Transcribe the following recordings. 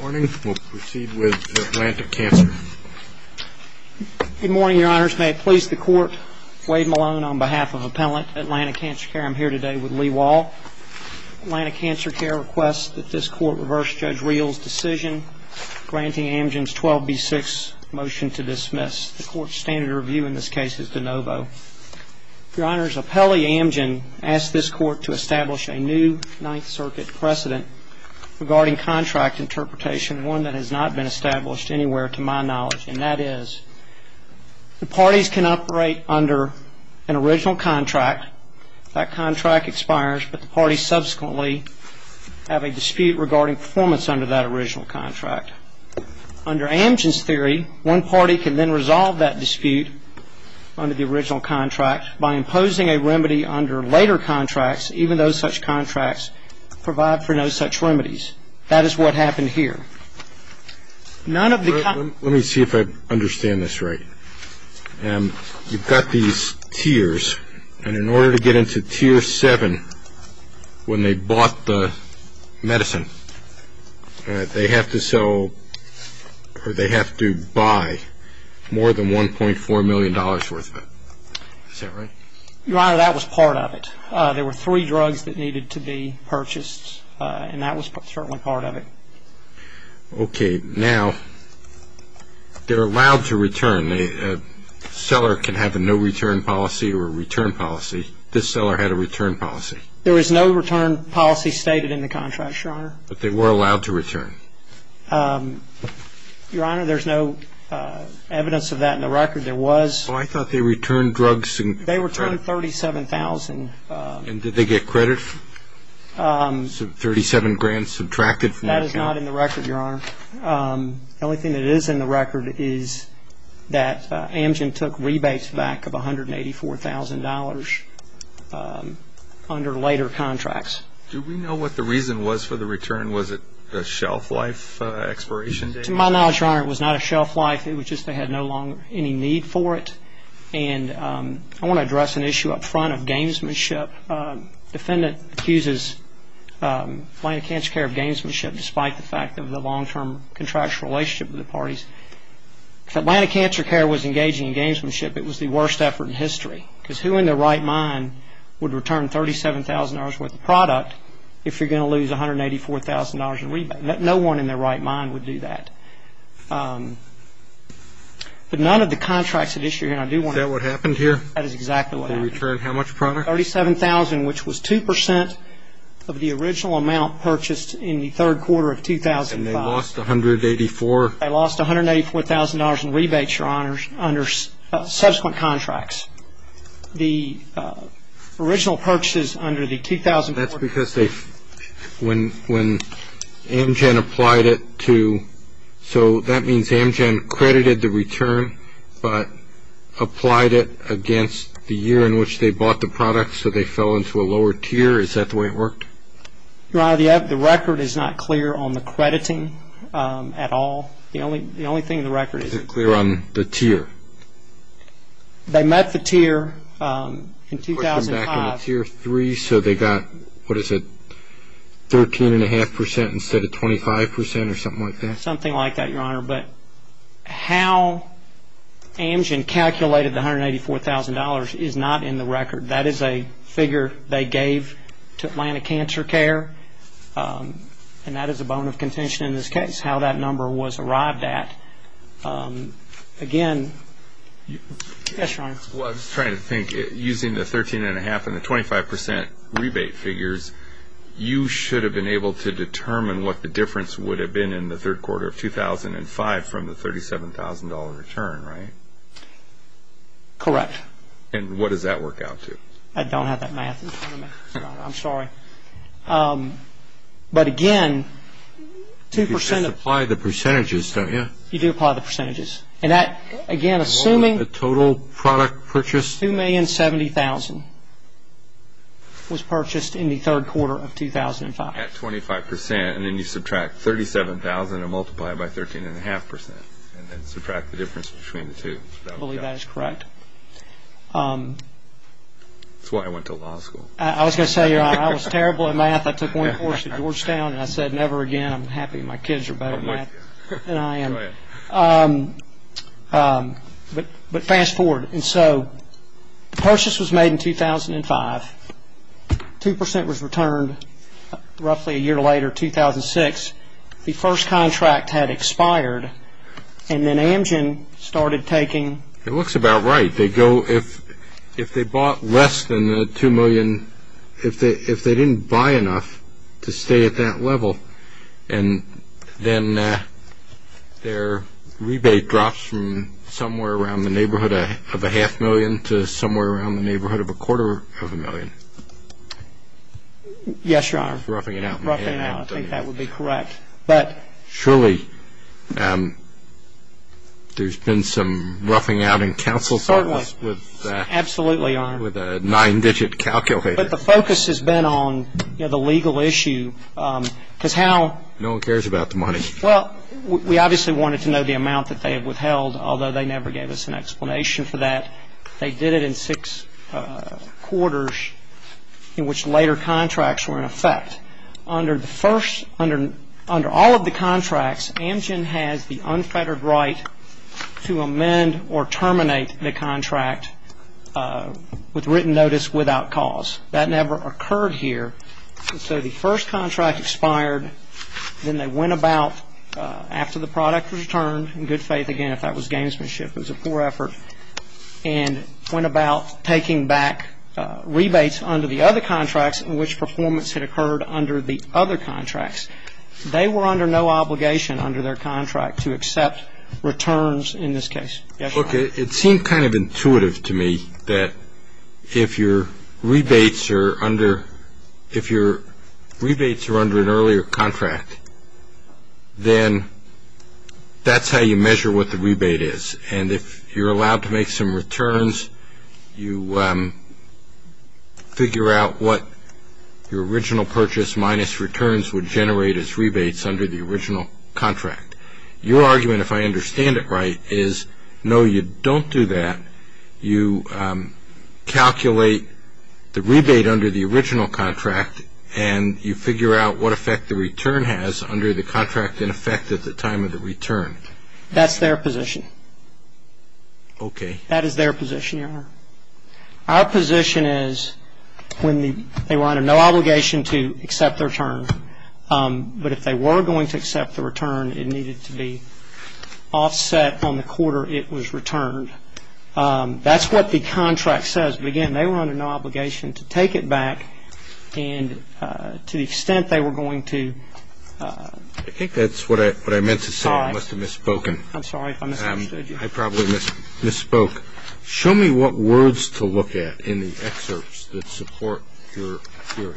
Good morning, Your Honors. May it please the Court, Wade Malone on behalf of Appellant Atlantic Cancer Care. I'm here today with Lee Wall. Atlantic Cancer Care requests that this Court reverse Judge Reel's decision granting Amgen's 12B6 motion to dismiss. The Court's standard review in this case is de novo. Your Honors, Appellee Amgen asked this Court to has not been established anywhere to my knowledge, and that is, the parties can operate under an original contract, that contract expires, but the parties subsequently have a dispute regarding performance under that original contract. Under Amgen's theory, one party can then resolve that dispute under the original contract by imposing a remedy under later contracts even though such contracts provide for no such remedies. That is what happened here. Let me see if I understand this right. You've got these tiers, and in order to get into Tier 7 when they bought the medicine, they have to sell or they have to buy more than $1.4 million worth of it. Is that right? Your Honor, that was part of it. There were three drugs that needed to be purchased, and that was certainly part of it. Okay. Now, they're allowed to return. A seller can have a no return policy or a return policy. This seller had a return policy. There is no return policy stated in the contract, Your Honor. But they were allowed to return? Your Honor, there's no evidence of that in the record. There was. Oh, I thought they returned drugs and credit. They returned $37,000. And did they get credit? $37,000 subtracted from that? That is not in the record, Your Honor. The only thing that is in the record is that Amgen took rebates back of $184,000 under later contracts. Do we know what the reason was for the return? Was it a shelf life expiration date? To my knowledge, Your Honor, it was not a shelf life. It was just they had no longer any need for it. And I want to address an issue up front of gamesmanship. The defendant accuses Atlanta Cancer Care of gamesmanship despite the fact of the long-term contractual relationship with the parties. If Atlanta Cancer Care was engaging in gamesmanship, it was the worst effort in history. Because who in their right mind would return $37,000 worth of product if you're going to lose $184,000 in rebates? No one in their right mind would do that. But none of the contracts at issue here. Is that what happened here? That is exactly what happened. They returned how much product? $37,000, which was 2% of the original amount purchased in the third quarter of 2005. And they lost $184,000? They lost $184,000 in rebates, Your Honor, under subsequent contracts. The original purchases under the 2004 contract That's because when Amgen applied it to, so that means Amgen credited the return, but applied it against the year in which they bought the product, so they fell into a lower tier. Is that the way it worked? Your Honor, the record is not clear on the crediting at all. The only thing in the record is... Is it clear on the tier? They met the tier in what is it, 13.5% instead of 25% or something like that? Something like that, Your Honor. But how Amgen calculated the $184,000 is not in the record. That is a figure they gave to Atlanta Cancer Care, and that is a bone of contention in this case, how that number was arrived at. Again... Yes, Your Honor. Well, I was trying to think. Using the 13.5% and the 25% rebate figures, you should have been able to determine what the difference would have been in the third quarter of 2005 from the $37,000 return, right? Correct. And what does that work out to? I don't have that math in front of me, Your Honor. I'm sorry. But again, 2% of... You just apply the percentages, don't you? You do apply the percentages. And that, again, assuming... And what was the total product purchased? $2,070,000 was purchased in the third quarter of 2005. At 25%, and then you subtract $37,000 and multiply it by 13.5% and subtract the difference between the two. I believe that is correct. That's why I went to law school. I was going to say, Your Honor, I was terrible at math. I took one course at Georgetown and I said, never again. I'm happy my kids are better at math than I am. Go ahead. But fast forward. And so the purchase was made in 2005. 2% was returned roughly a year later, 2006. The first contract had expired, and then Amgen started taking... It looks about right. They go... If they bought less than the $2,000,000... If they didn't buy enough to stay at that level, and then their rebate drops from somewhere around the neighborhood of a half million to somewhere around the neighborhood of a quarter of a million. Yes, Your Honor. Roughing it out. Roughing it out. I think that would be correct. But... Surely, there's been some roughing out in counsel... Certainly. Absolutely, Your Honor. The focus has been on the legal issue, because how... No one cares about the money. Well, we obviously wanted to know the amount that they had withheld, although they never gave us an explanation for that. They did it in six quarters, in which later contracts were in effect. Under all of the contracts, Amgen has the unfettered right to amend or re-amend any of the contracts that had ever occurred here. And so the first contract expired, then they went about, after the product was returned, in good faith again, if that was gamesmanship, it was a poor effort, and went about taking back rebates under the other contracts in which performance had occurred under the other contracts. They were under no obligation under their contract to accept returns in this case. Yes, Your Honor. Well, look, it seemed kind of intuitive to me that if your rebates are under an earlier contract, then that's how you measure what the rebate is. And if you're allowed to make some returns, you figure out what your original purchase minus returns would generate as rebates under the original contract. Your argument, if I understand it right, is no, you don't do that. You calculate the rebate under the original contract, and you figure out what effect the return has under the contract in effect at the time of the return. That's their position. Okay. That is their position, Your Honor. Our position is when they were under no obligation to accept the return, but if they were going to accept the return, it needed to be offset on the quarter it was returned. That's what the contract says. But again, they were under no obligation to take it back, and to the extent they were going to I think that's what I meant to say. I must have misspoken. I'm sorry if I misunderstood you. I probably misspoke. Show me what words to look at in the excerpts that support your theory.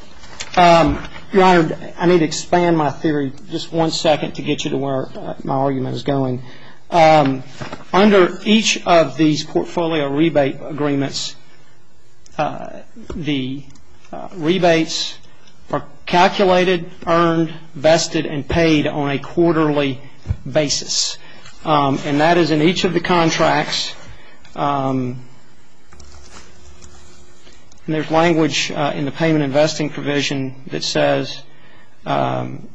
Your Honor, I need to expand my theory just one second to get you to where my argument is going. Under each of these portfolio rebate agreements, the rebates are calculated, earned, vested, and paid on a quarterly basis. And that is in each of the contracts. And there's a payment investing provision that says, Amgen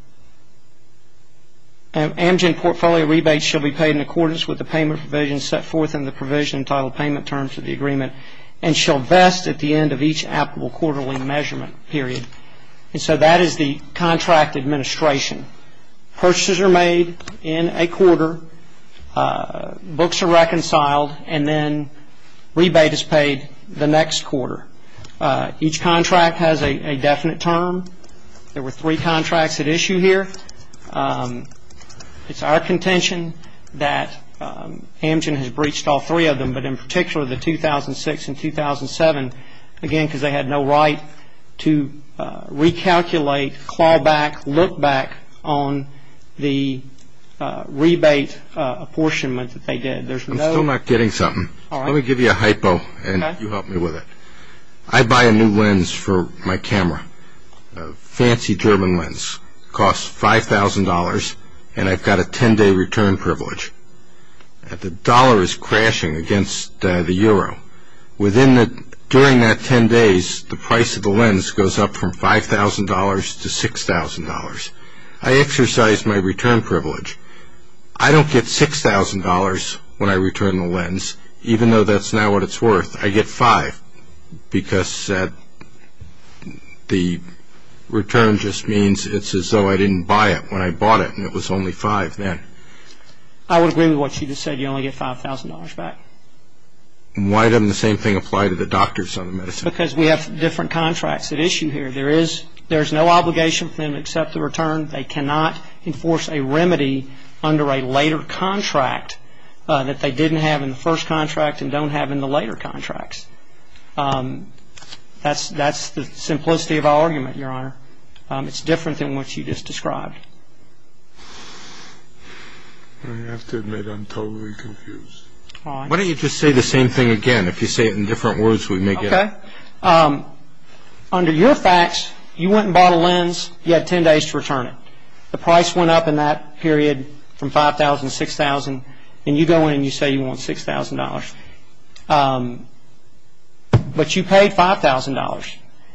portfolio rebates shall be paid in accordance with the payment provision set forth in the provision titled Payment Terms of the Agreement, and shall vest at the end of each applicable quarterly measurement period. And so that is the contract administration. Purchases are made in a quarter, books are reconciled, and then rebate is paid the next quarter. Each contract has a definite term. There were three contracts at issue here. It's our contention that Amgen has breached all three of them, but in particular, the 2006 and 2007, again, because they had no right to recalculate, claw back, look back on the rebate apportionment that they did. I'm still not getting something. Let me give you a hypo, and you help me with it. I buy a new lens for my camera, a fancy German lens. It costs $5,000, and I've got a 10-day return privilege. The dollar is crashing against the euro. During that 10 days, the price of the lens goes up from $5,000 to $6,000. I exercise my return privilege. I don't get $6,000 when I return the lens, even though that's not what it's worth. I get $5,000, because the return just means it's as though I didn't buy it when I bought it, and it was only $5,000 then. I would agree with what you just said. You only get $5,000 back. Why doesn't the same thing apply to the doctors on the medicine? Because we have different contracts at issue here. There is no obligation for them to accept the return. They cannot enforce a remedy under a later contract that they didn't have in the first contract and don't have in the later contracts. That's the simplicity of our argument, Your Honor. It's different than what you just described. I have to admit, I'm totally confused. Why don't you just say the same thing again? If you say it in different words, we may get it. Okay. Under your facts, you went and bought a lens, you had 10 days to return it. The price went up in that period from $5,000 to $6,000, and you go in and you say you want $6,000. But you paid $5,000,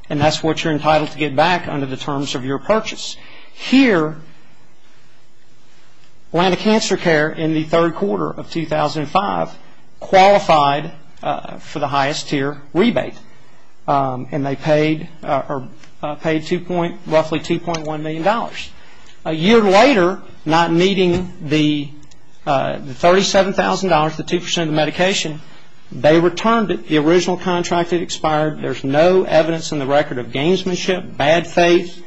and that's what you're entitled to get back under the terms of your purchase. Here, Atlanta Cancer Care, in the third quarter of 2005, qualified for the highest tier rebate, and they paid roughly $2.1 million. A year later, not meeting the $37,000, the 2% of the medication, they returned it. The original contract had expired. There's no evidence in the record of gamesmanship, bad faith,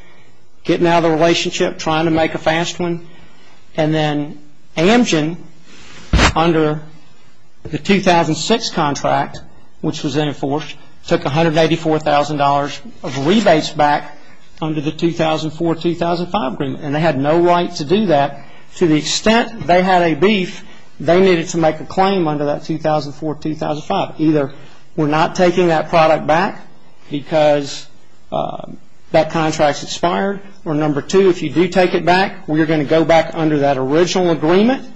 getting out of the relationship, trying to make a fast one. And then Amgen, under the 2006 contract, which was then enforced, took $184,000 of rebates back under the 2004-2005 agreement, and they had no right to do that. To the extent they had a beef, they needed to make a claim under that 2004-2005. Either we're not taking that product back because that contract's expired, or number two, if you do take it back, we're going to go back under that original agreement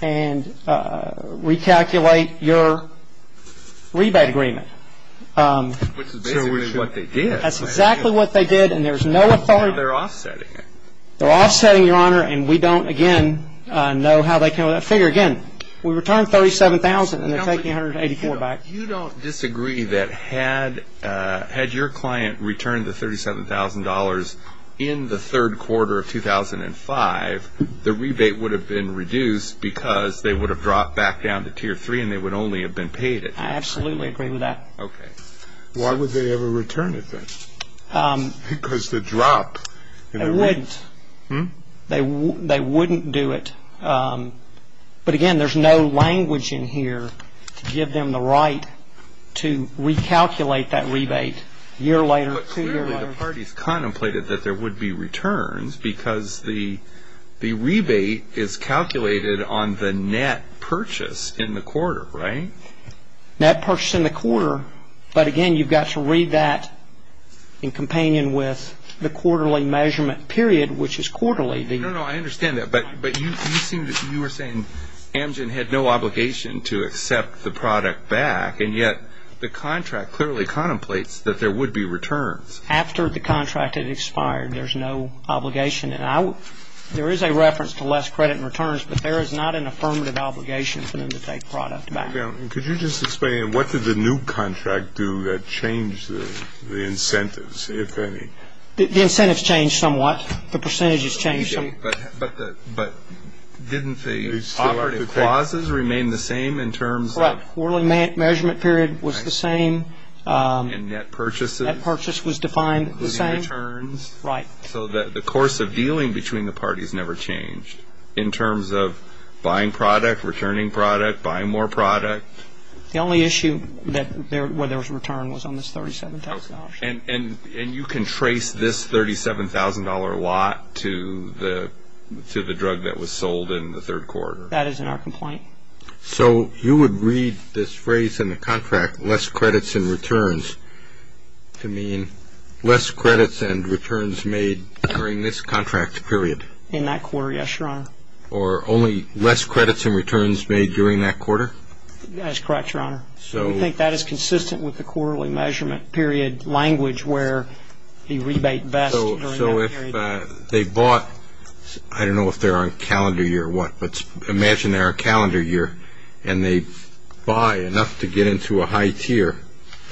and recalculate your rebate agreement. Which is basically what they did. That's exactly what they did, and there's no authority. Now they're offsetting it. They're offsetting it, Your Honor, and we don't, again, know how they came up with that figure. Again, we returned $37,000 and they're taking $184,000 back. You don't disagree that had your client returned the $37,000 in the third quarter of 2005, the rebate would have been reduced because they would have dropped back down to tier three and they would only have been paid it. I absolutely agree with that. Okay. Why would they ever return it then? Because the drop in the rebate... They wouldn't. Hmm? to recalculate that rebate a year later, two years later. But clearly the parties contemplated that there would be returns because the rebate is calculated on the net purchase in the quarter, right? Net purchase in the quarter, but again, you've got to read that in companion with the quarterly measurement period, which is quarterly. No, no, I understand that, but you seem to, you were saying Amgen had no obligation to take product back and yet the contract clearly contemplates that there would be returns. After the contract had expired, there's no obligation and I would, there is a reference to less credit and returns, but there is not an affirmative obligation for them to take product back. Could you just explain, what did the new contract do that changed the incentives, if any? The incentives changed somewhat, the percentages changed somewhat. But didn't the clauses remain the same in terms of... The quarterly measurement period was the same. And net purchases? Net purchase was defined the same. Including returns? Right. So the course of dealing between the parties never changed in terms of buying product, returning product, buying more product? The only issue that there, where there was a return was on this $37,000. Okay. And you can trace this $37,000 lot to the drug that was sold in the third quarter? That is in our complaint. So you would read this phrase in the contract, less credits and returns, to mean less credits and returns made during this contract period? In that quarter, yes, Your Honor. Or only less credits and returns made during that quarter? That is correct, Your Honor. So... We think that is consistent with the quarterly measurement period language where the rebate best during that period. So if they bought, I don't know if they're on calendar year or what, but imagine they're on a calendar year and they buy enough to get into a high tier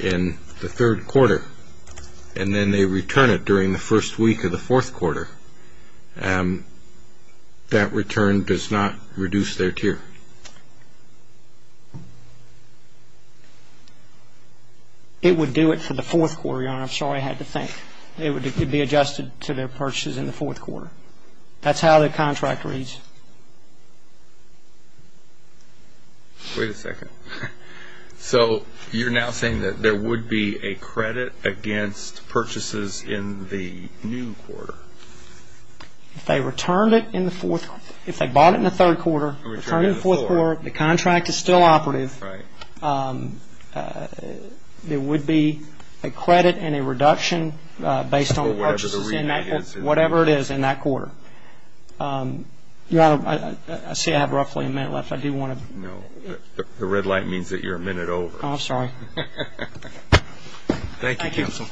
in the third quarter and then they return it during the first week of the fourth quarter, that return does not reduce their tier. It would do it for the fourth quarter, Your Honor. I'm sorry, I had to think. It would be adjusted to their purchases in the fourth quarter. That's how the contract reads. Wait a second. So you're now saying that there would be a credit against purchases in the new quarter? If they returned it in the fourth, if they bought it in the third quarter, returned it in the fourth quarter, the contract is still operative, there would be a credit and a reduction on purchases in that quarter. Your Honor, I see I have roughly a minute left. I do want to... No. The red light means that you're a minute over. Oh, I'm sorry. Thank you, Counsel.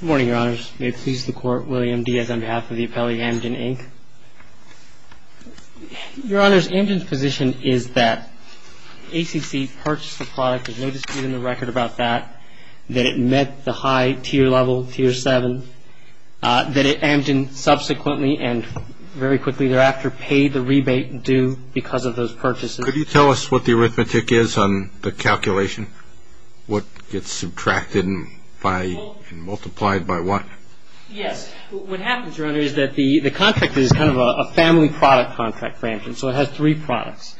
Good morning, Your Honors. May it please the Court, William Diaz on behalf of the Appellee Amgen, Inc. Your Honor, Amgen's position is that ACC purchased the product, there's no dispute in the record about that, that it met the high tier level, tier 7, that Amgen subsequently and very quickly thereafter paid the rebate due because of those purchases. Could you tell us what the arithmetic is on the calculation? What gets subtracted and multiplied by what? Yes. What happens, Your Honor, is that the contract is kind of a family product contract for Amgen, so it has three products,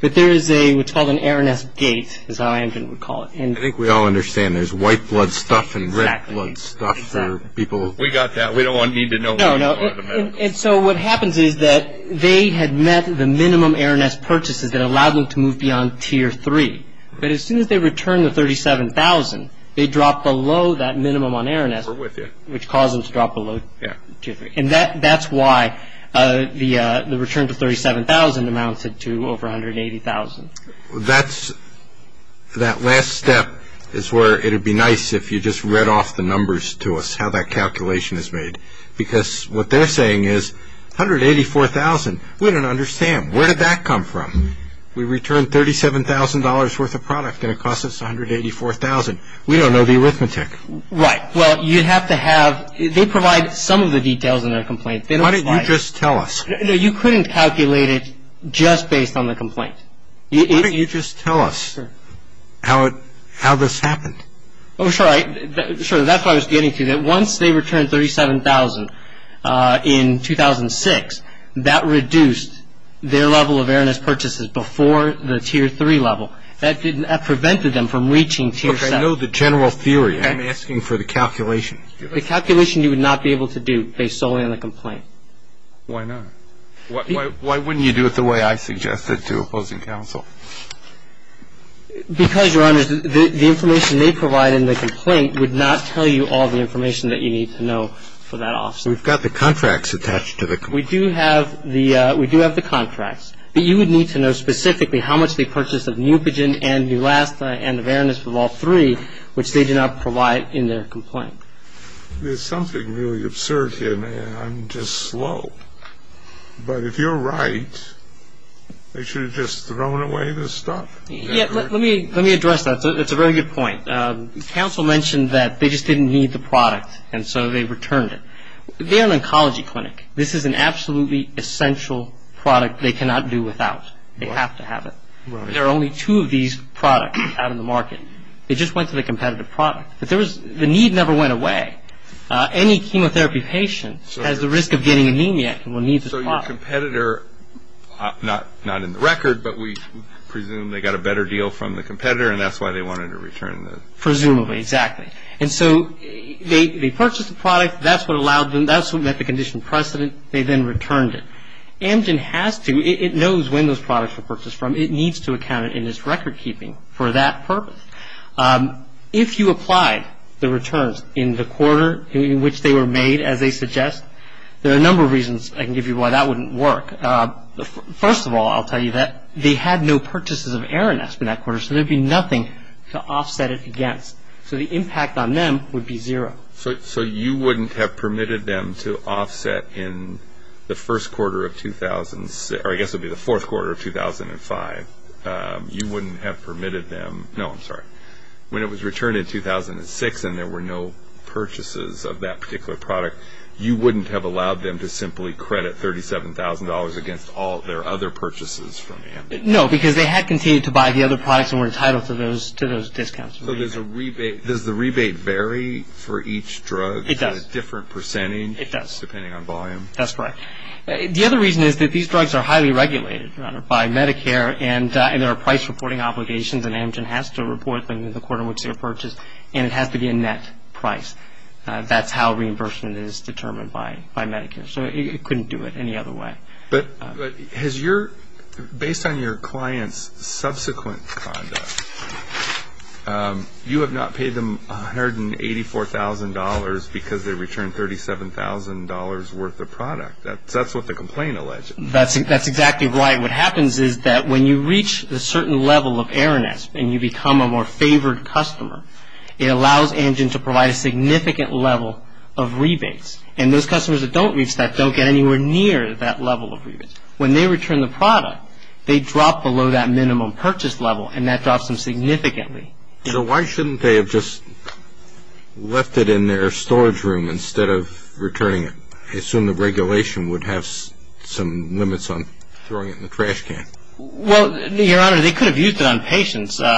but there is a, what's called an Araness gate, is how Amgen would call it. I think we all understand. There's white blood stuff and red blood stuff for people. We got that. We don't need to know. No, no. And so what happens is that they had met the minimum Araness purchases that allowed them to move beyond tier 3, but as soon as they returned the $37,000, they dropped below that and that caused them to drop below tier 3, and that's why the return to $37,000 amounted to over $180,000. That last step is where it would be nice if you just read off the numbers to us, how that calculation is made, because what they're saying is $184,000. We don't understand. Where did that come from? We returned $37,000 worth of product and it cost us $184,000. We don't know the arithmetic. Right. Well, you have to have, they provide some of the details in their complaint. Why didn't you just tell us? You couldn't calculate it just based on the complaint. Why didn't you just tell us how this happened? Oh, sure. That's what I was getting to, that once they returned $37,000 in 2006, that reduced their level of Araness purchases before the tier 3 level. That prevented them from reaching tier 7. I know the general theory. I'm asking for the calculation. The calculation you would not be able to do based solely on the complaint. Why not? Why wouldn't you do it the way I suggested to opposing counsel? Because, Your Honors, the information they provide in the complaint would not tell you all the information that you need to know for that offset. We've got the contracts attached to the complaint. We do have the contracts, but you would need to know specifically how much they purchased of Neupogen and Neulasta and Araness of all three, which they do not provide in their complaint. There's something really absurd here, and I'm just slow. But if you're right, they should have just thrown away this stuff. Yeah, let me address that. It's a very good point. Counsel mentioned that they just didn't need the product, and so they returned it. They're an oncology clinic. This is an absolutely essential product they cannot do without. They have to have it. There are only two of these products out in the market. They just went to the competitive product. The need never went away. Any chemotherapy patient has the risk of getting anemia and will need this product. So your competitor, not in the record, but we presume they got a better deal from the competitor and that's why they wanted to return the product. Presumably, exactly. And so they purchased the product. That's what allowed them. That's what met the condition precedent. They then returned it. Amgen has to. It knows when those products were purchased from. It needs to account in its record keeping for that purpose. If you applied the returns in the quarter in which they were made, as they suggest, there are a number of reasons I can give you why that wouldn't work. First of all, I'll tell you that they had no purchases of Aranesp in that quarter, so there'd be nothing to offset it against. So the impact on them would be zero. So you wouldn't have permitted them to offset in the first quarter of 2006, or I guess it was 2005, you wouldn't have permitted them, no I'm sorry, when it was returned in 2006 and there were no purchases of that particular product, you wouldn't have allowed them to simply credit $37,000 against all their other purchases from Amgen. No, because they had continued to buy the other products and were entitled to those discounts. So does the rebate vary for each drug? It does. Different percentage? It does. Depending on volume? That's correct. The other reason is that these drugs are highly regulated, Your Honor, by Medicare and there are price reporting obligations and Amgen has to report them in the quarter in which they were purchased and it has to be a net price. That's how reimbursement is determined by Medicare. So it couldn't do it any other way. Has your, based on your client's subsequent conduct, you have not paid them $184,000 because they returned $37,000 worth of product? That's what the complaint alleged. That's exactly right. What happens is that when you reach a certain level of Aronesp and you become a more favored customer, it allows Amgen to provide a significant level of rebates. And those customers that don't reach that don't get anywhere near that level of rebates. When they return the product, they drop below that minimum purchase level and that drops them significantly. So why shouldn't they have just left it in their storage room instead of returning it? I assume the regulation would have some limits on throwing it in the trash can. Well, Your Honor, they could have used it on patients. Like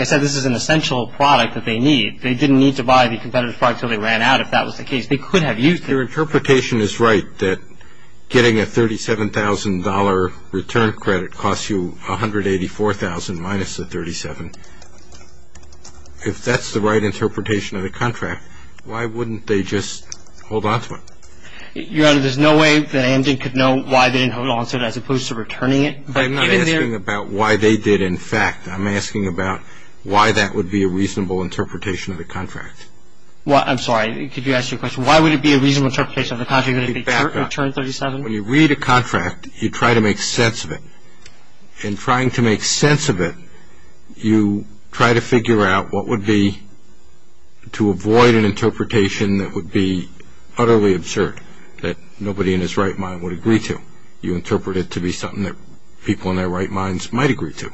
I said, this is an essential product that they need. They didn't need to buy the competitive product until they ran out, if that was the case. They could have used it. Your interpretation is right that getting a $37,000 return credit costs you $184,000 minus the $37,000. If that's the right interpretation of the contract, why wouldn't they just hold on to it? Your Honor, there's no way that Amgen could know why they didn't hold on to it as opposed to returning it. I'm not asking about why they did, in fact. I'm asking about why that would be a reasonable interpretation of the contract. I'm sorry. Could you ask your question? Why would it be a reasonable interpretation of the contract if they returned $37,000? When you read a contract, you try to make sense of it. In trying to make sense of it, you try to figure out what would be to avoid an interpretation that would be utterly absurd, that nobody in his right mind would agree to. You interpret it to be something that people in their right minds might agree to.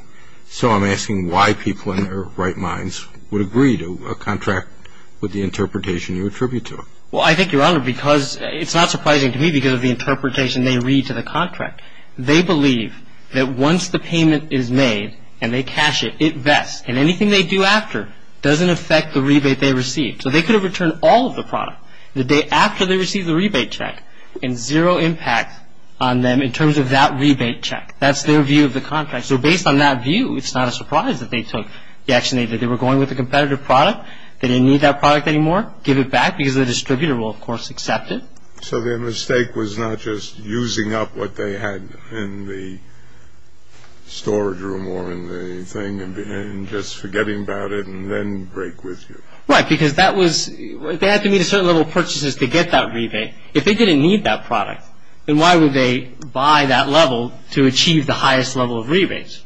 So I'm asking why people in their right minds would agree to a contract with the interpretation you attribute to it. Well, I think, Your Honor, because it's not surprising to me because of the interpretation they read to the contract. They believe that once the payment is made and they cash it, it vests, and anything they do after doesn't affect the rebate they receive. So they could have returned all of the product the day after they received the rebate check and zero impact on them in terms of that rebate check. That's their view of the contract. So based on that view, it's not a surprise that they took the action they did. They were going with a competitive product, they didn't need that product anymore, give it back because the distributor will, of course, accept it. So their mistake was not just using up what they had in the storage room or in the thing and just forgetting about it and then break with you. Right, because that was, they had to meet a certain level of purchases to get that rebate. If they didn't need that product, then why would they buy that level to achieve the highest level of rebates,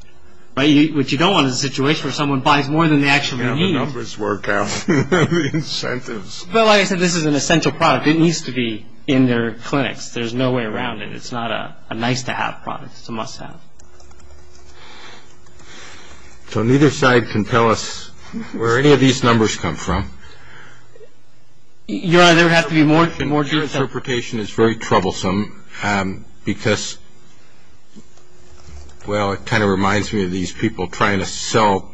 which you don't want in a situation where someone buys more than they actually need. Yeah, the numbers work out. The incentives. But like I said, this is an essential product, it needs to be in their clinics, there's no way around it. It's not a nice to have product, it's a must have. So neither side can tell us where any of these numbers come from. Your Honor, there would have to be more jurisdictions. Your interpretation is very troublesome because, well, it kind of reminds me of these people trying to sell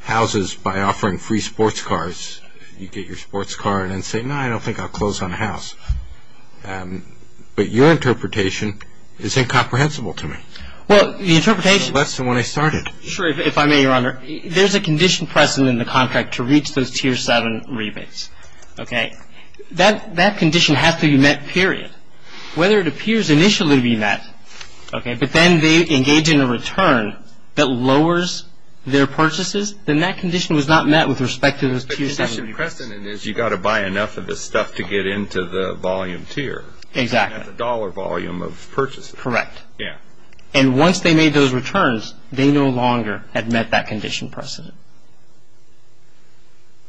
houses by offering free sports cars. You get your sports car and then say, no, I don't think I'll close on a house. But your interpretation is incomprehensible to me. Well, the interpretation. Less than when I started. Sure, if I may, Your Honor. There's a condition present in the contract to reach those Tier 7 rebates, okay? That condition has to be met, period. Whether it appears initially to be met, okay, but then they engage in a return that lowers their purchases, then that condition was not met with respect to those Tier 7 rebates. But the condition precedent is you got to buy enough of the stuff to get into the volume tier. Exactly. Not the dollar volume of purchases. Correct. Yeah. And once they made those returns, they no longer had met that condition precedent.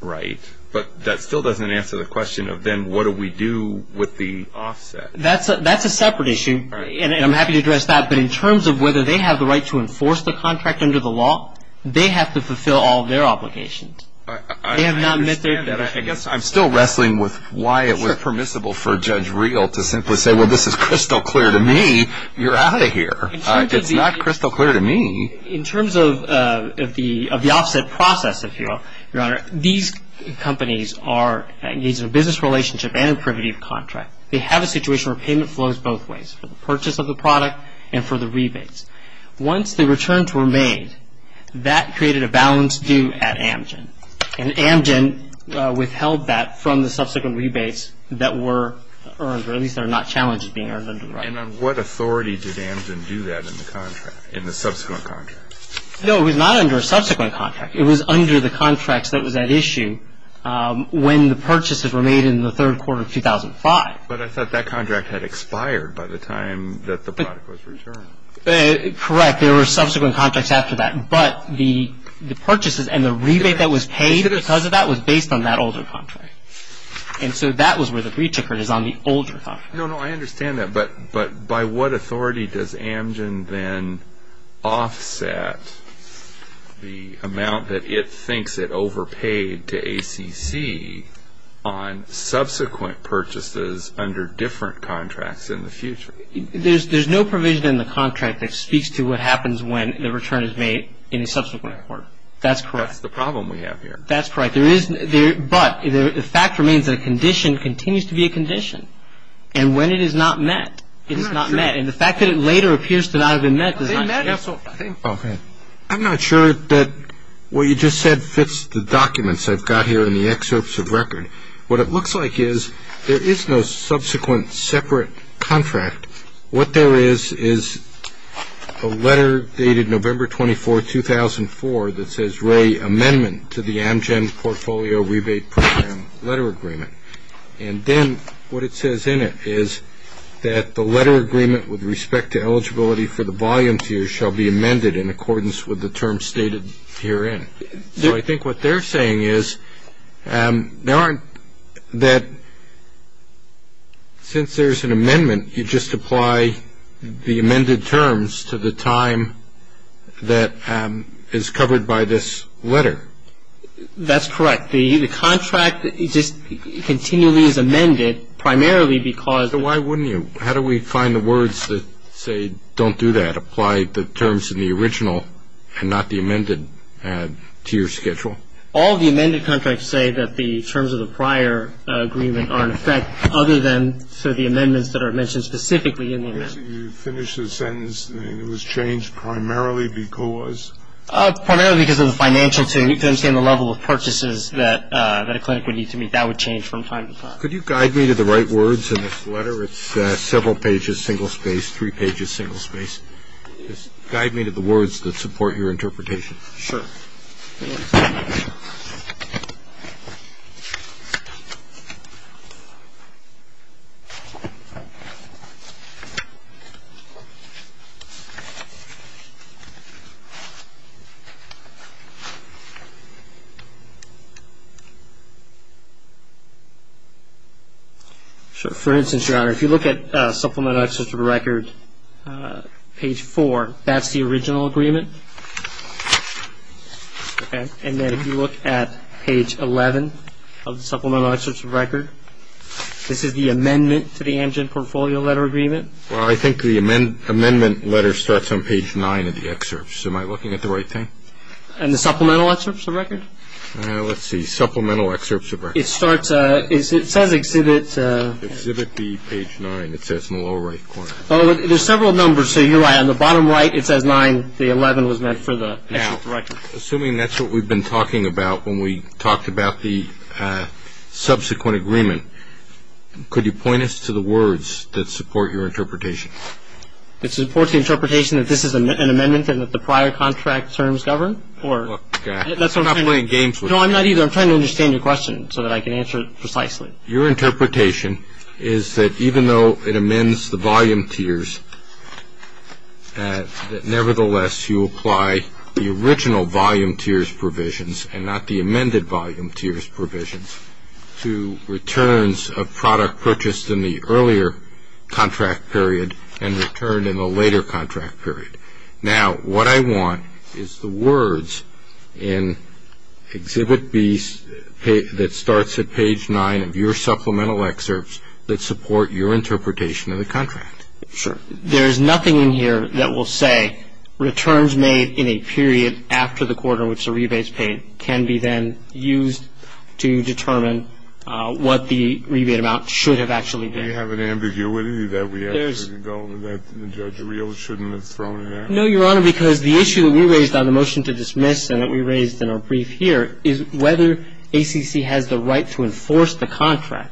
Right. But that still doesn't answer the question of then what do we do with the offset? That's a separate issue, and I'm happy to address that, but in terms of whether they have the right to enforce the contract under the law, they have to fulfill all of their obligations. I understand that. I guess I'm still wrestling with why it was permissible for Judge Real to simply say, well, this is crystal clear to me, you're out of here. It's not crystal clear to me. In terms of the offset process, if you will, Your Honor, these companies are engaged in a business relationship and a privative contract. They have a situation where payment flows both ways, for the purchase of the product and for the rebates. Once the returns were made, that created a balance due at Amgen, and Amgen withheld that from the subsequent rebates that were earned, or at least that are not challenged being earned under the law. And on what authority did Amgen do that in the contract, in the subsequent contract? No, it was not under a subsequent contract. It was under the contracts that was at issue when the purchases were made in the third quarter of 2005. But I thought that contract had expired by the time that the product was returned. Correct. There were subsequent contracts after that. But the purchases and the rebate that was paid because of that was based on that older contract. And so that was where the breach occurred, is on the older contract. No, no, I understand that. But by what authority does Amgen then offset the amount that it thinks it overpaid to ACC on subsequent purchases under different contracts in the future? There's no provision in the contract that speaks to what happens when the return is made in a subsequent quarter. That's correct. That's the problem we have here. That's correct. But the fact remains that a condition continues to be a condition. And when it is not met, it is not met. And the fact that it later appears to not have been met does not change that. I'm not sure that what you just said fits the documents I've got here in the excerpts of record. What it looks like is there is no subsequent separate contract. What there is is a letter dated November 24, 2004, that says, Ray, amendment to the Amgen Portfolio Rebate Program letter agreement. And then what it says in it is that the letter agreement with respect to eligibility for the volumes here shall be amended in accordance with the terms stated herein. So I think what they're saying is there aren't that since there's an amendment, you just apply the amended terms to the time that is covered by this letter. That's correct. The contract just continually is amended primarily because... Why wouldn't you? How do we find the words that say, don't do that, apply the terms in the original and not the amended to your schedule? All the amended contracts say that the terms of the prior agreement are in effect, other than for the amendments that are mentioned specifically in the amendment. So you finish the sentence, it was changed primarily because? Primarily because of the financial, to understand the level of purchases that a clinic would need to make. That would change from time to time. Could you guide me to the right words in this letter? It's several pages, single space, three pages, single space. Guide me to the words that support your interpretation. Sure. For instance, your honor, if you look at supplement access to the record, page four, that's the original agreement. Okay. And then if you look at page 11 of the supplemental excerpts of record, this is the amendment to the Amgen Portfolio Letter Agreement. Well, I think the amendment letter starts on page nine of the excerpts. Am I looking at the right thing? And the supplemental excerpts of record? Let's see, supplemental excerpts of record. It starts, it says exhibit... Exhibit B, page nine. It says in the lower right corner. Oh, there's several numbers. So you're right. On the bottom right, it says nine. The 11 was meant for the actual record. Assuming that's what we've been talking about when we talked about the subsequent agreement, could you point us to the words that support your interpretation? It supports the interpretation that this is an amendment and that the prior contract terms govern or... Look, I'm not playing games with you. No, I'm not either. I'm trying to understand your question so that I can answer it precisely. Your interpretation is that even though it amends the volume tiers, that nevertheless you apply the original volume tiers provisions and not the amended volume tiers provisions to returns of product purchased in the earlier contract period and returned in the later contract period. Now, what I want is the words in exhibit B that starts at page nine of your supplemental excerpts that support your interpretation of the contract. Sure. There's nothing in here that will say returns made in a period after the quarter in which the rebate is paid can be then used to determine what the rebate amount should have actually been. Do we have an ambiguity that we have to go... that Judge Reel shouldn't have thrown in there? No, Your Honor, because the issue that we raised on the motion to dismiss and that we raised in our brief here is whether ACC has the right to enforce the contract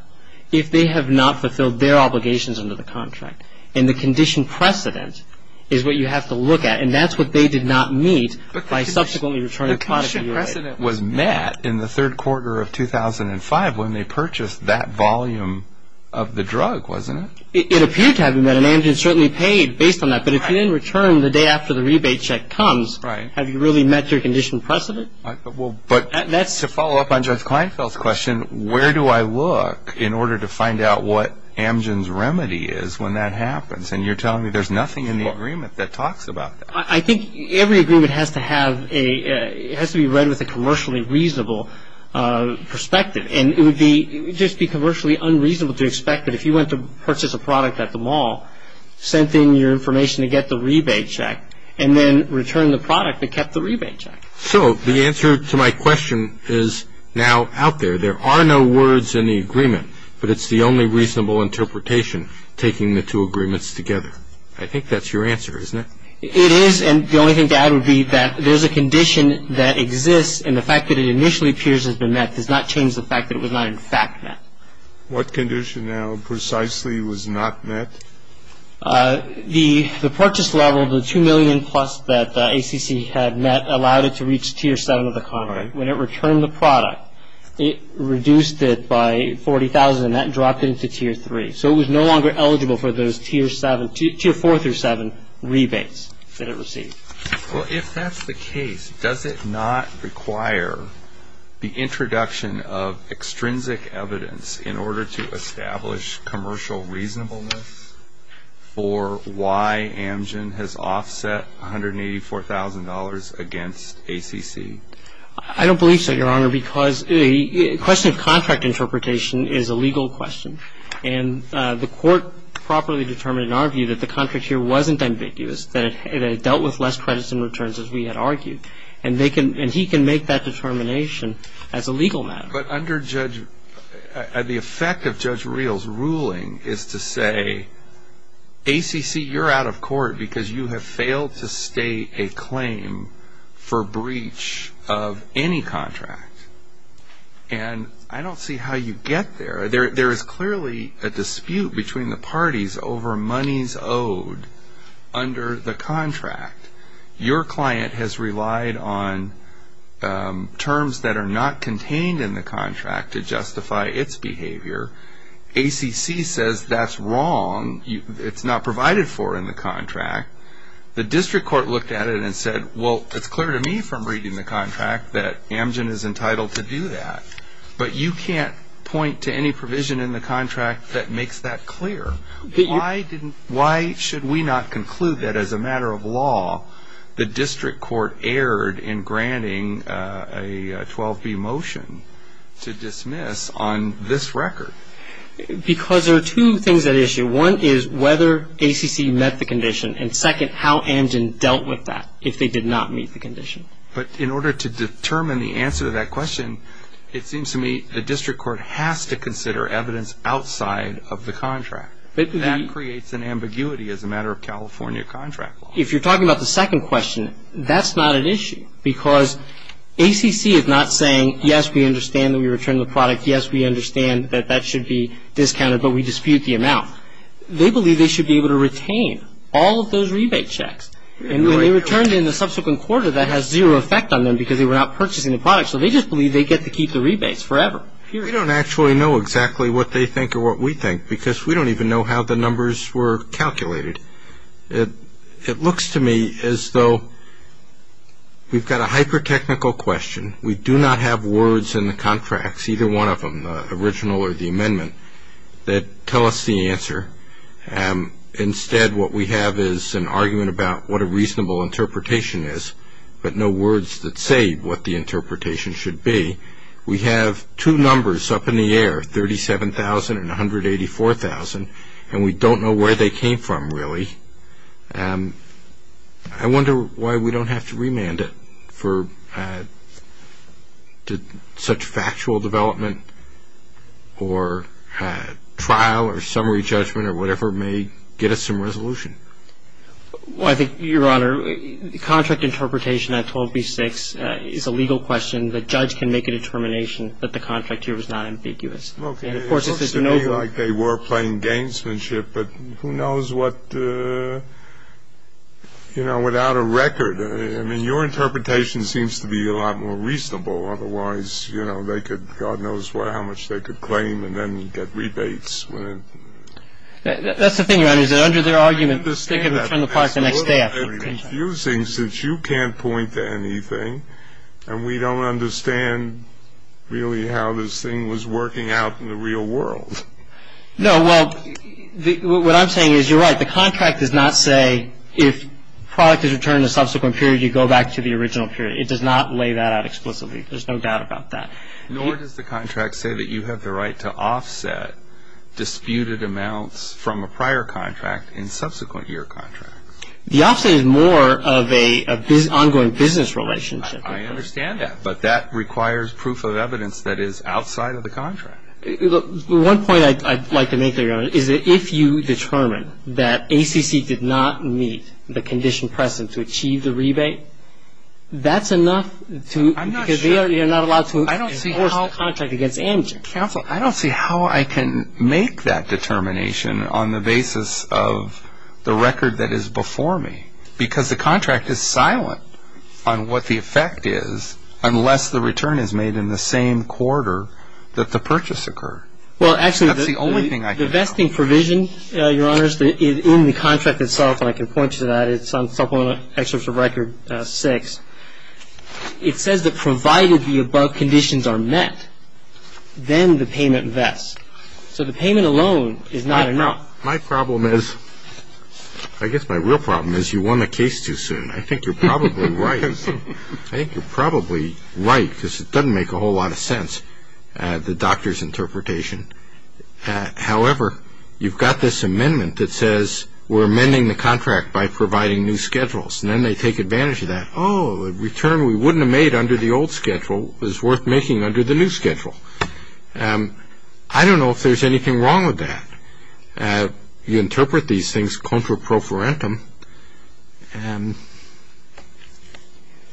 if they have not fulfilled their obligations under the contract. And the condition precedent is what you have to look at. And that's what they did not meet by subsequently returning product to you later. The condition precedent was met in the third quarter of 2005 when they purchased that volume of the drug, wasn't it? It appeared to have been met, and Amgen certainly paid based on that, but if you didn't return the day after the rebate check comes, have you really met your condition precedent? But to follow up on Judge Kleinfeld's question, where do I look in order to find out what Amgen's remedy is when that happens? And you're telling me there's nothing in the agreement that talks about that. I think every agreement has to have a... it has to be read with a commercially reasonable perspective. And it would be... it would just be commercially unreasonable to expect that if you went to purchase a product at the mall, sent in your information to get the rebate check, and then returned the product that kept the rebate check. So the answer to my question is now out there. There are no words in the agreement, but it's the only reasonable interpretation, taking the two agreements together. I think that's your answer, isn't it? It is, and the only thing to add would be that there's a condition that exists, and the fact that it initially appears has been met does not change the fact that it was not in fact met. What condition now precisely was not met? The purchase level, the $2 million plus that ACC had met, allowed it to reach Tier 7 of the contract. When it returned the product, it reduced it by $40,000, and that dropped it into Tier 3. So it was no longer eligible for those Tier 7... Tier 4 through 7 rebates that it received. Well, if that's the case, does it not require the introduction of extrinsic evidence in order to establish commercial reasonableness for why Amgen has offset $184,000 against ACC? I don't believe so, Your Honor, because the question of contract interpretation is a legal question, and the Court properly determined in our view that the contract here wasn't ambiguous, that it dealt with less credits and returns as we had argued, and he can make that determination as a legal matter. But under the effect of Judge Reel's ruling is to say, ACC, you're out of court because you have failed to state a claim for breach of any contract. And I don't see how you get there. There is clearly a dispute between the parties over monies owed under the contract. Your client has relied on terms that are not contained in the contract to justify its behavior. ACC says that's wrong, it's not provided for in the contract. The district court looked at it and said, well, it's clear to me from reading the contract that Amgen is entitled to do that. But you can't point to any provision in the contract that makes that clear. Why should we not conclude that as a matter of law, the district court erred in granting a 12B motion to dismiss on this record? Because there are two things at issue. One is whether ACC met the condition, and second, how Amgen dealt with that if they did not meet the condition. But in order to determine the answer to that question, it seems to me the district court has to consider evidence outside of the contract. That creates an ambiguity as a matter of California contract law. If you're talking about the second question, that's not an issue. Because ACC is not saying, yes, we understand that we return the product, yes, we understand that that should be discounted, but we dispute the amount. They believe they should be able to retain all of those rebate checks. And when they returned in the subsequent quarter, that has zero effect on them because they were not purchasing the product. So they just believe they get to keep the rebates forever. We don't actually know exactly what they think or what we think, because we don't even know how the numbers were calculated. It looks to me as though we've got a hyper-technical question. We do not have words in the contracts, either one of them, the original or the amendment, that tell us the answer. Instead, what we have is an argument about what a reasonable interpretation is, but no words that say what the interpretation should be. We have two numbers up in the air, 37,000 and 184,000, and we don't know where they came from, really. I wonder why we don't have to remand it for such factual development or trial or summary judgment or whatever may get us some resolution. Well, I think, Your Honor, the contract interpretation at 12B6 is a legal question. The judge can make a determination that the contract here is not ambiguous. It looks to me like they were playing gangsmanship, but who knows what, you know, without a record. I mean, your interpretation seems to be a lot more reasonable. Otherwise, you know, they could, God knows how much they could claim and then get rebates. That's the thing, Your Honor, is that under their argument, they can return the product the next day after the contract. I understand that. That's a little confusing since you can't point to anything, and we don't understand really how this thing was working out in the real world. No, well, what I'm saying is you're right. The contract does not say if product is returned in a subsequent period, you go back to the original period. It does not lay that out explicitly. There's no doubt about that. Nor does the contract say that you have the right to offset disputed amounts from a prior contract in subsequent year contracts. The offset is more of an ongoing business relationship. I understand that, but that requires proof of evidence that is outside of the contract. One point I'd like to make, Your Honor, is that if you determine that ACC did not meet the condition present to achieve the rebate, that's enough to – I'm not sure. Because you're not allowed to – I don't see how –– enforce the contract against amnesty. Counsel, I don't see how I can make that determination on the basis of the record that is before me, because the contract is silent on what the effect is unless the return is made in the same quarter that the purchase occurred. Well, actually – That's the only thing I can – The vesting provision, Your Honors, in the contract itself, and I can point to that, it's on Supplemental Excerpt of Record 6, it says that provided the above conditions are met, then the payment vests. So the payment alone is not enough. My problem is – I guess my real problem is you won the case too soon. I think you're probably right. I think you're probably right, because it doesn't make a whole lot of sense, the doctor's interpretation. However, you've got this amendment that says we're amending the contract by providing new schedules. And then they take advantage of that. Oh, the return we wouldn't have made under the old schedule is worth making under the new schedule. I don't know if there's anything wrong with that. You interpret these things contra pro forentum, and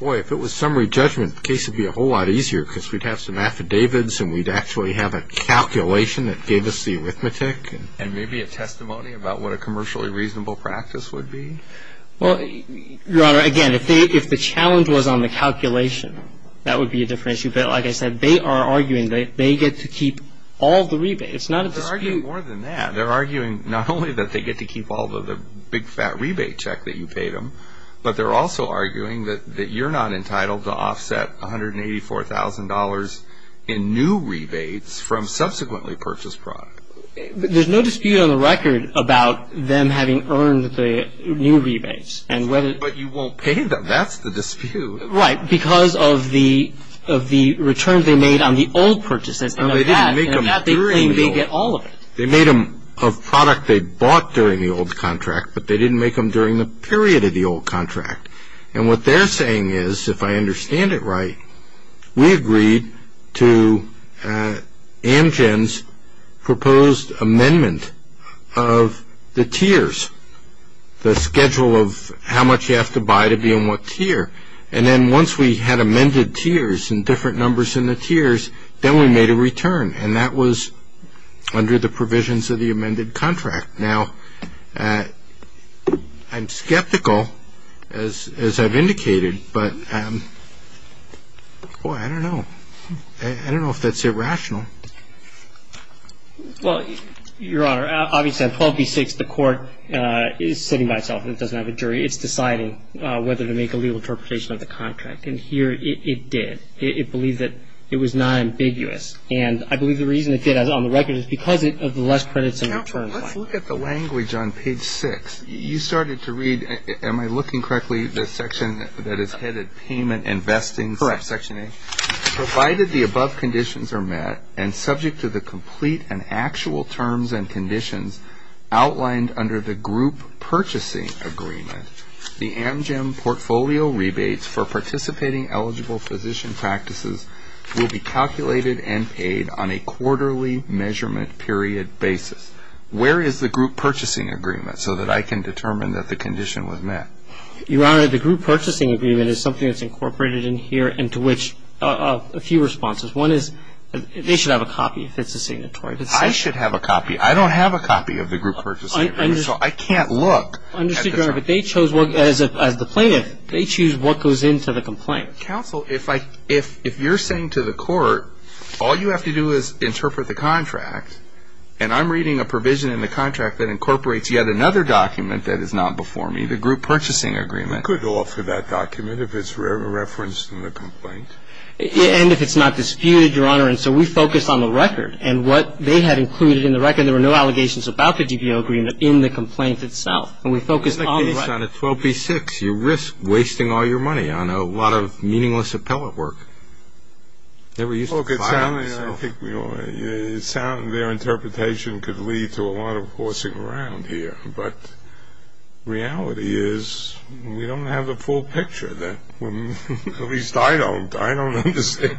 boy, if it was summary judgment, the case would be a whole lot easier, because we'd have some affidavits and we'd actually have a calculation that gave us the arithmetic. And maybe a testimony about what a commercially reasonable practice would be? Well, Your Honor, again, if the challenge was on the calculation, that would be a different issue. But like I said, they are arguing that they get to keep all the rebates. It's not a dispute. They're arguing more than that. They're arguing not only that they get to keep all the big fat rebate check that you paid them, but they're also arguing that you're not entitled to offset $184,000 in new rebates from subsequently purchased product. But there's no dispute on the record about them having earned the new rebates. And whether... But you won't pay them. That's the dispute. Right. Because of the return they made on the old purchases. And of that, they claim they get all of it. They made them a product they bought during the old contract, but they didn't make them during the period of the old contract. And what they're saying is, if I understand it right, we agreed to Amgen's proposed amendment of the tiers, the schedule of how much you have to buy to be in what tier. And then once we had amended tiers and different numbers in the tiers, then we made a return. And that was under the provisions of the amended contract. Now, I'm skeptical, as I've indicated, but, boy, I don't know. I don't know if that's irrational. Well, Your Honor, obviously on 12b-6, the court is sitting by itself and it doesn't have a jury. It's deciding whether to make a legal interpretation of the contract. And here, it did. It believed that it was non-ambiguous. And I believe the reason it did on the record is because of the less credits and return Let's look at the language on page 6. You started to read, am I looking correctly, the section that is headed Payment Investing Section 8? Correct. Provided the above conditions are met and subject to the complete and actual terms and conditions outlined under the Group Purchasing Agreement, the Amgen portfolio rebates for participating eligible physician practices will be calculated and paid on a quarterly measurement period basis. Where is the Group Purchasing Agreement so that I can determine that the condition was met? Your Honor, the Group Purchasing Agreement is something that's incorporated in here and to which a few responses. One is, they should have a copy if it's a signatory decision. I should have a copy. I don't have a copy of the Group Purchasing Agreement, so I can't look. Understood, Your Honor, but they chose, as the plaintiff, they choose what goes into the complaint. Counsel, if you're saying to the court, all you have to do is interpret the contract, and I'm reading a provision in the contract that incorporates yet another document that is not before me, the Group Purchasing Agreement. We could offer that document if it's referenced in the complaint. And if it's not disputed, Your Honor, and so we focus on the record and what they had included in the record. There were no allegations about the DPO agreement in the complaint itself, and we focus on the record. Your Honor, if you focus on a 12b-6, you risk wasting all your money on a lot of meaningless appellate work. They were used to filing, so. Okay, soundly, I think we all, soundly their interpretation could lead to a lot of horsing around here, but reality is, we don't have the full picture that, well, at least I don't. I don't understand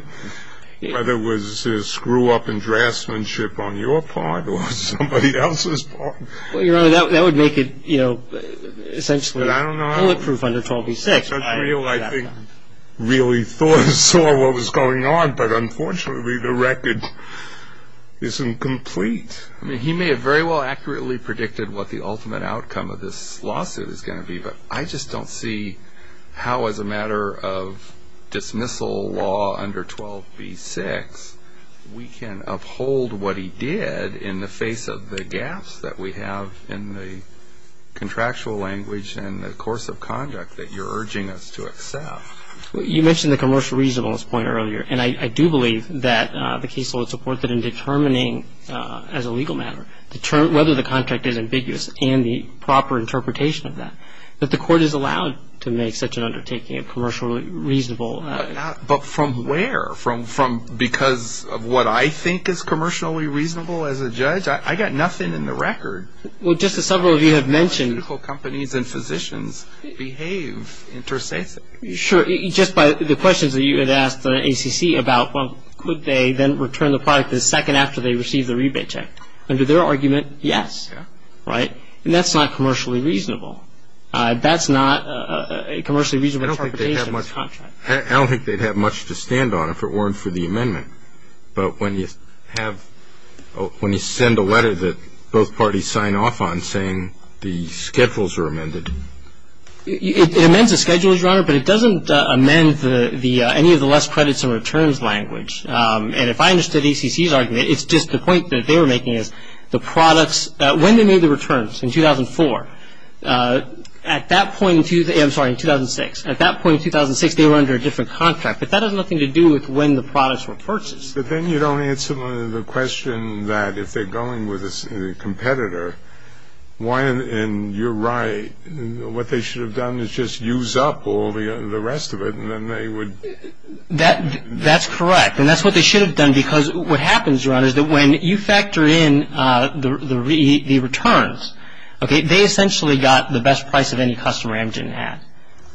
whether it was a screw-up in draftsmanship on your part or somebody else's part. Well, Your Honor, that would make it, you know, essentially bulletproof under 12b-6. I don't know if that's real, I think, really saw what was going on, but unfortunately the record isn't complete. I mean, he may have very well accurately predicted what the ultimate outcome of this lawsuit is going to be, but I just don't see how, as a matter of dismissal law under 12b-6, we can uphold what he did in the face of the gaps that we have in the contractual language and the course of conduct that you're urging us to accept. You mentioned the commercial reasonableness point earlier, and I do believe that the case will support that in determining, as a legal matter, whether the contract is ambiguous and the proper interpretation of that, that the court is allowed to make such an undertaking of commercial reasonableness. But from where? Because of what I think is commercially reasonable as a judge? I've got nothing in the record. Well, Justice, several of you have mentioned... ...how pharmaceutical companies and physicians behave interstitially. Sure. Just by the questions that you had asked the ACC about, well, could they then return the product the second after they received the rebate check? Under their argument, yes, right? And that's not commercially reasonable. That's not a commercially reasonable interpretation of this contract. I don't think they'd have much to stand on if it weren't for the amendment. But when you have, when you send a letter that both parties sign off on saying the schedules are amended... It amends the schedules, Your Honor, but it doesn't amend any of the less credits and returns language. And if I understood ACC's argument, it's just the point that they were making is the products, when they made the returns, in 2004, at that point in, I'm sorry, in 2006, at that point in 2006, they were under a different contract, but that has nothing to do with when the products were purchased. But then you don't answer the question that if they're going with a competitor, why, and you're right, what they should have done is just use up all the rest of it, and then they would... That's correct. And that's what they should have done, because what happens, Your Honor, is that when you factor in the returns, okay, they essentially got the best price that any customer agent had,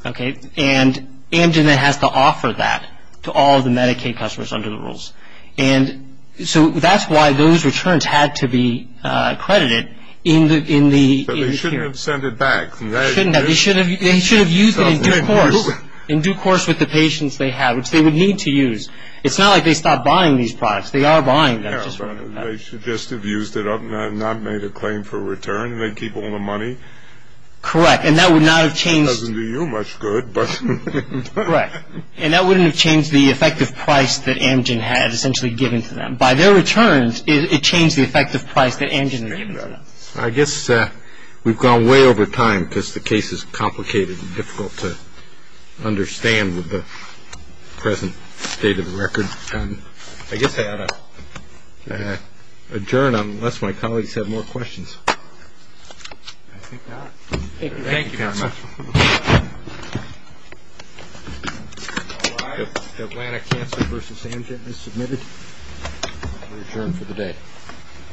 okay? And Amgen then has to offer that to all of the Medicaid customers under the rules. And so that's why those returns had to be credited in the... But they shouldn't have sent it back, right? They shouldn't have. They should have used it in due course. In due course with the patients they have, which they would need to use. It's not like they stopped buying these products. They are buying them. Yeah, but they should just have used it up and not made a claim for return, and they'd keep all the money. Correct. And that would not have changed... In due course. Correct. And that wouldn't have changed the effective price that Amgen had essentially given to them. By their returns, it changed the effective price that Amgen had given to them. I guess we've gone way over time, because the case is complicated and difficult to understand with the present state of the record, and I guess I ought to adjourn unless my colleagues have more questions. I think not. Thank you, counsel. Thank you, counsel. All rise. The Atlanta Cancer v. Amgen is submitted for adjournment for the day. Thank you. Thank you.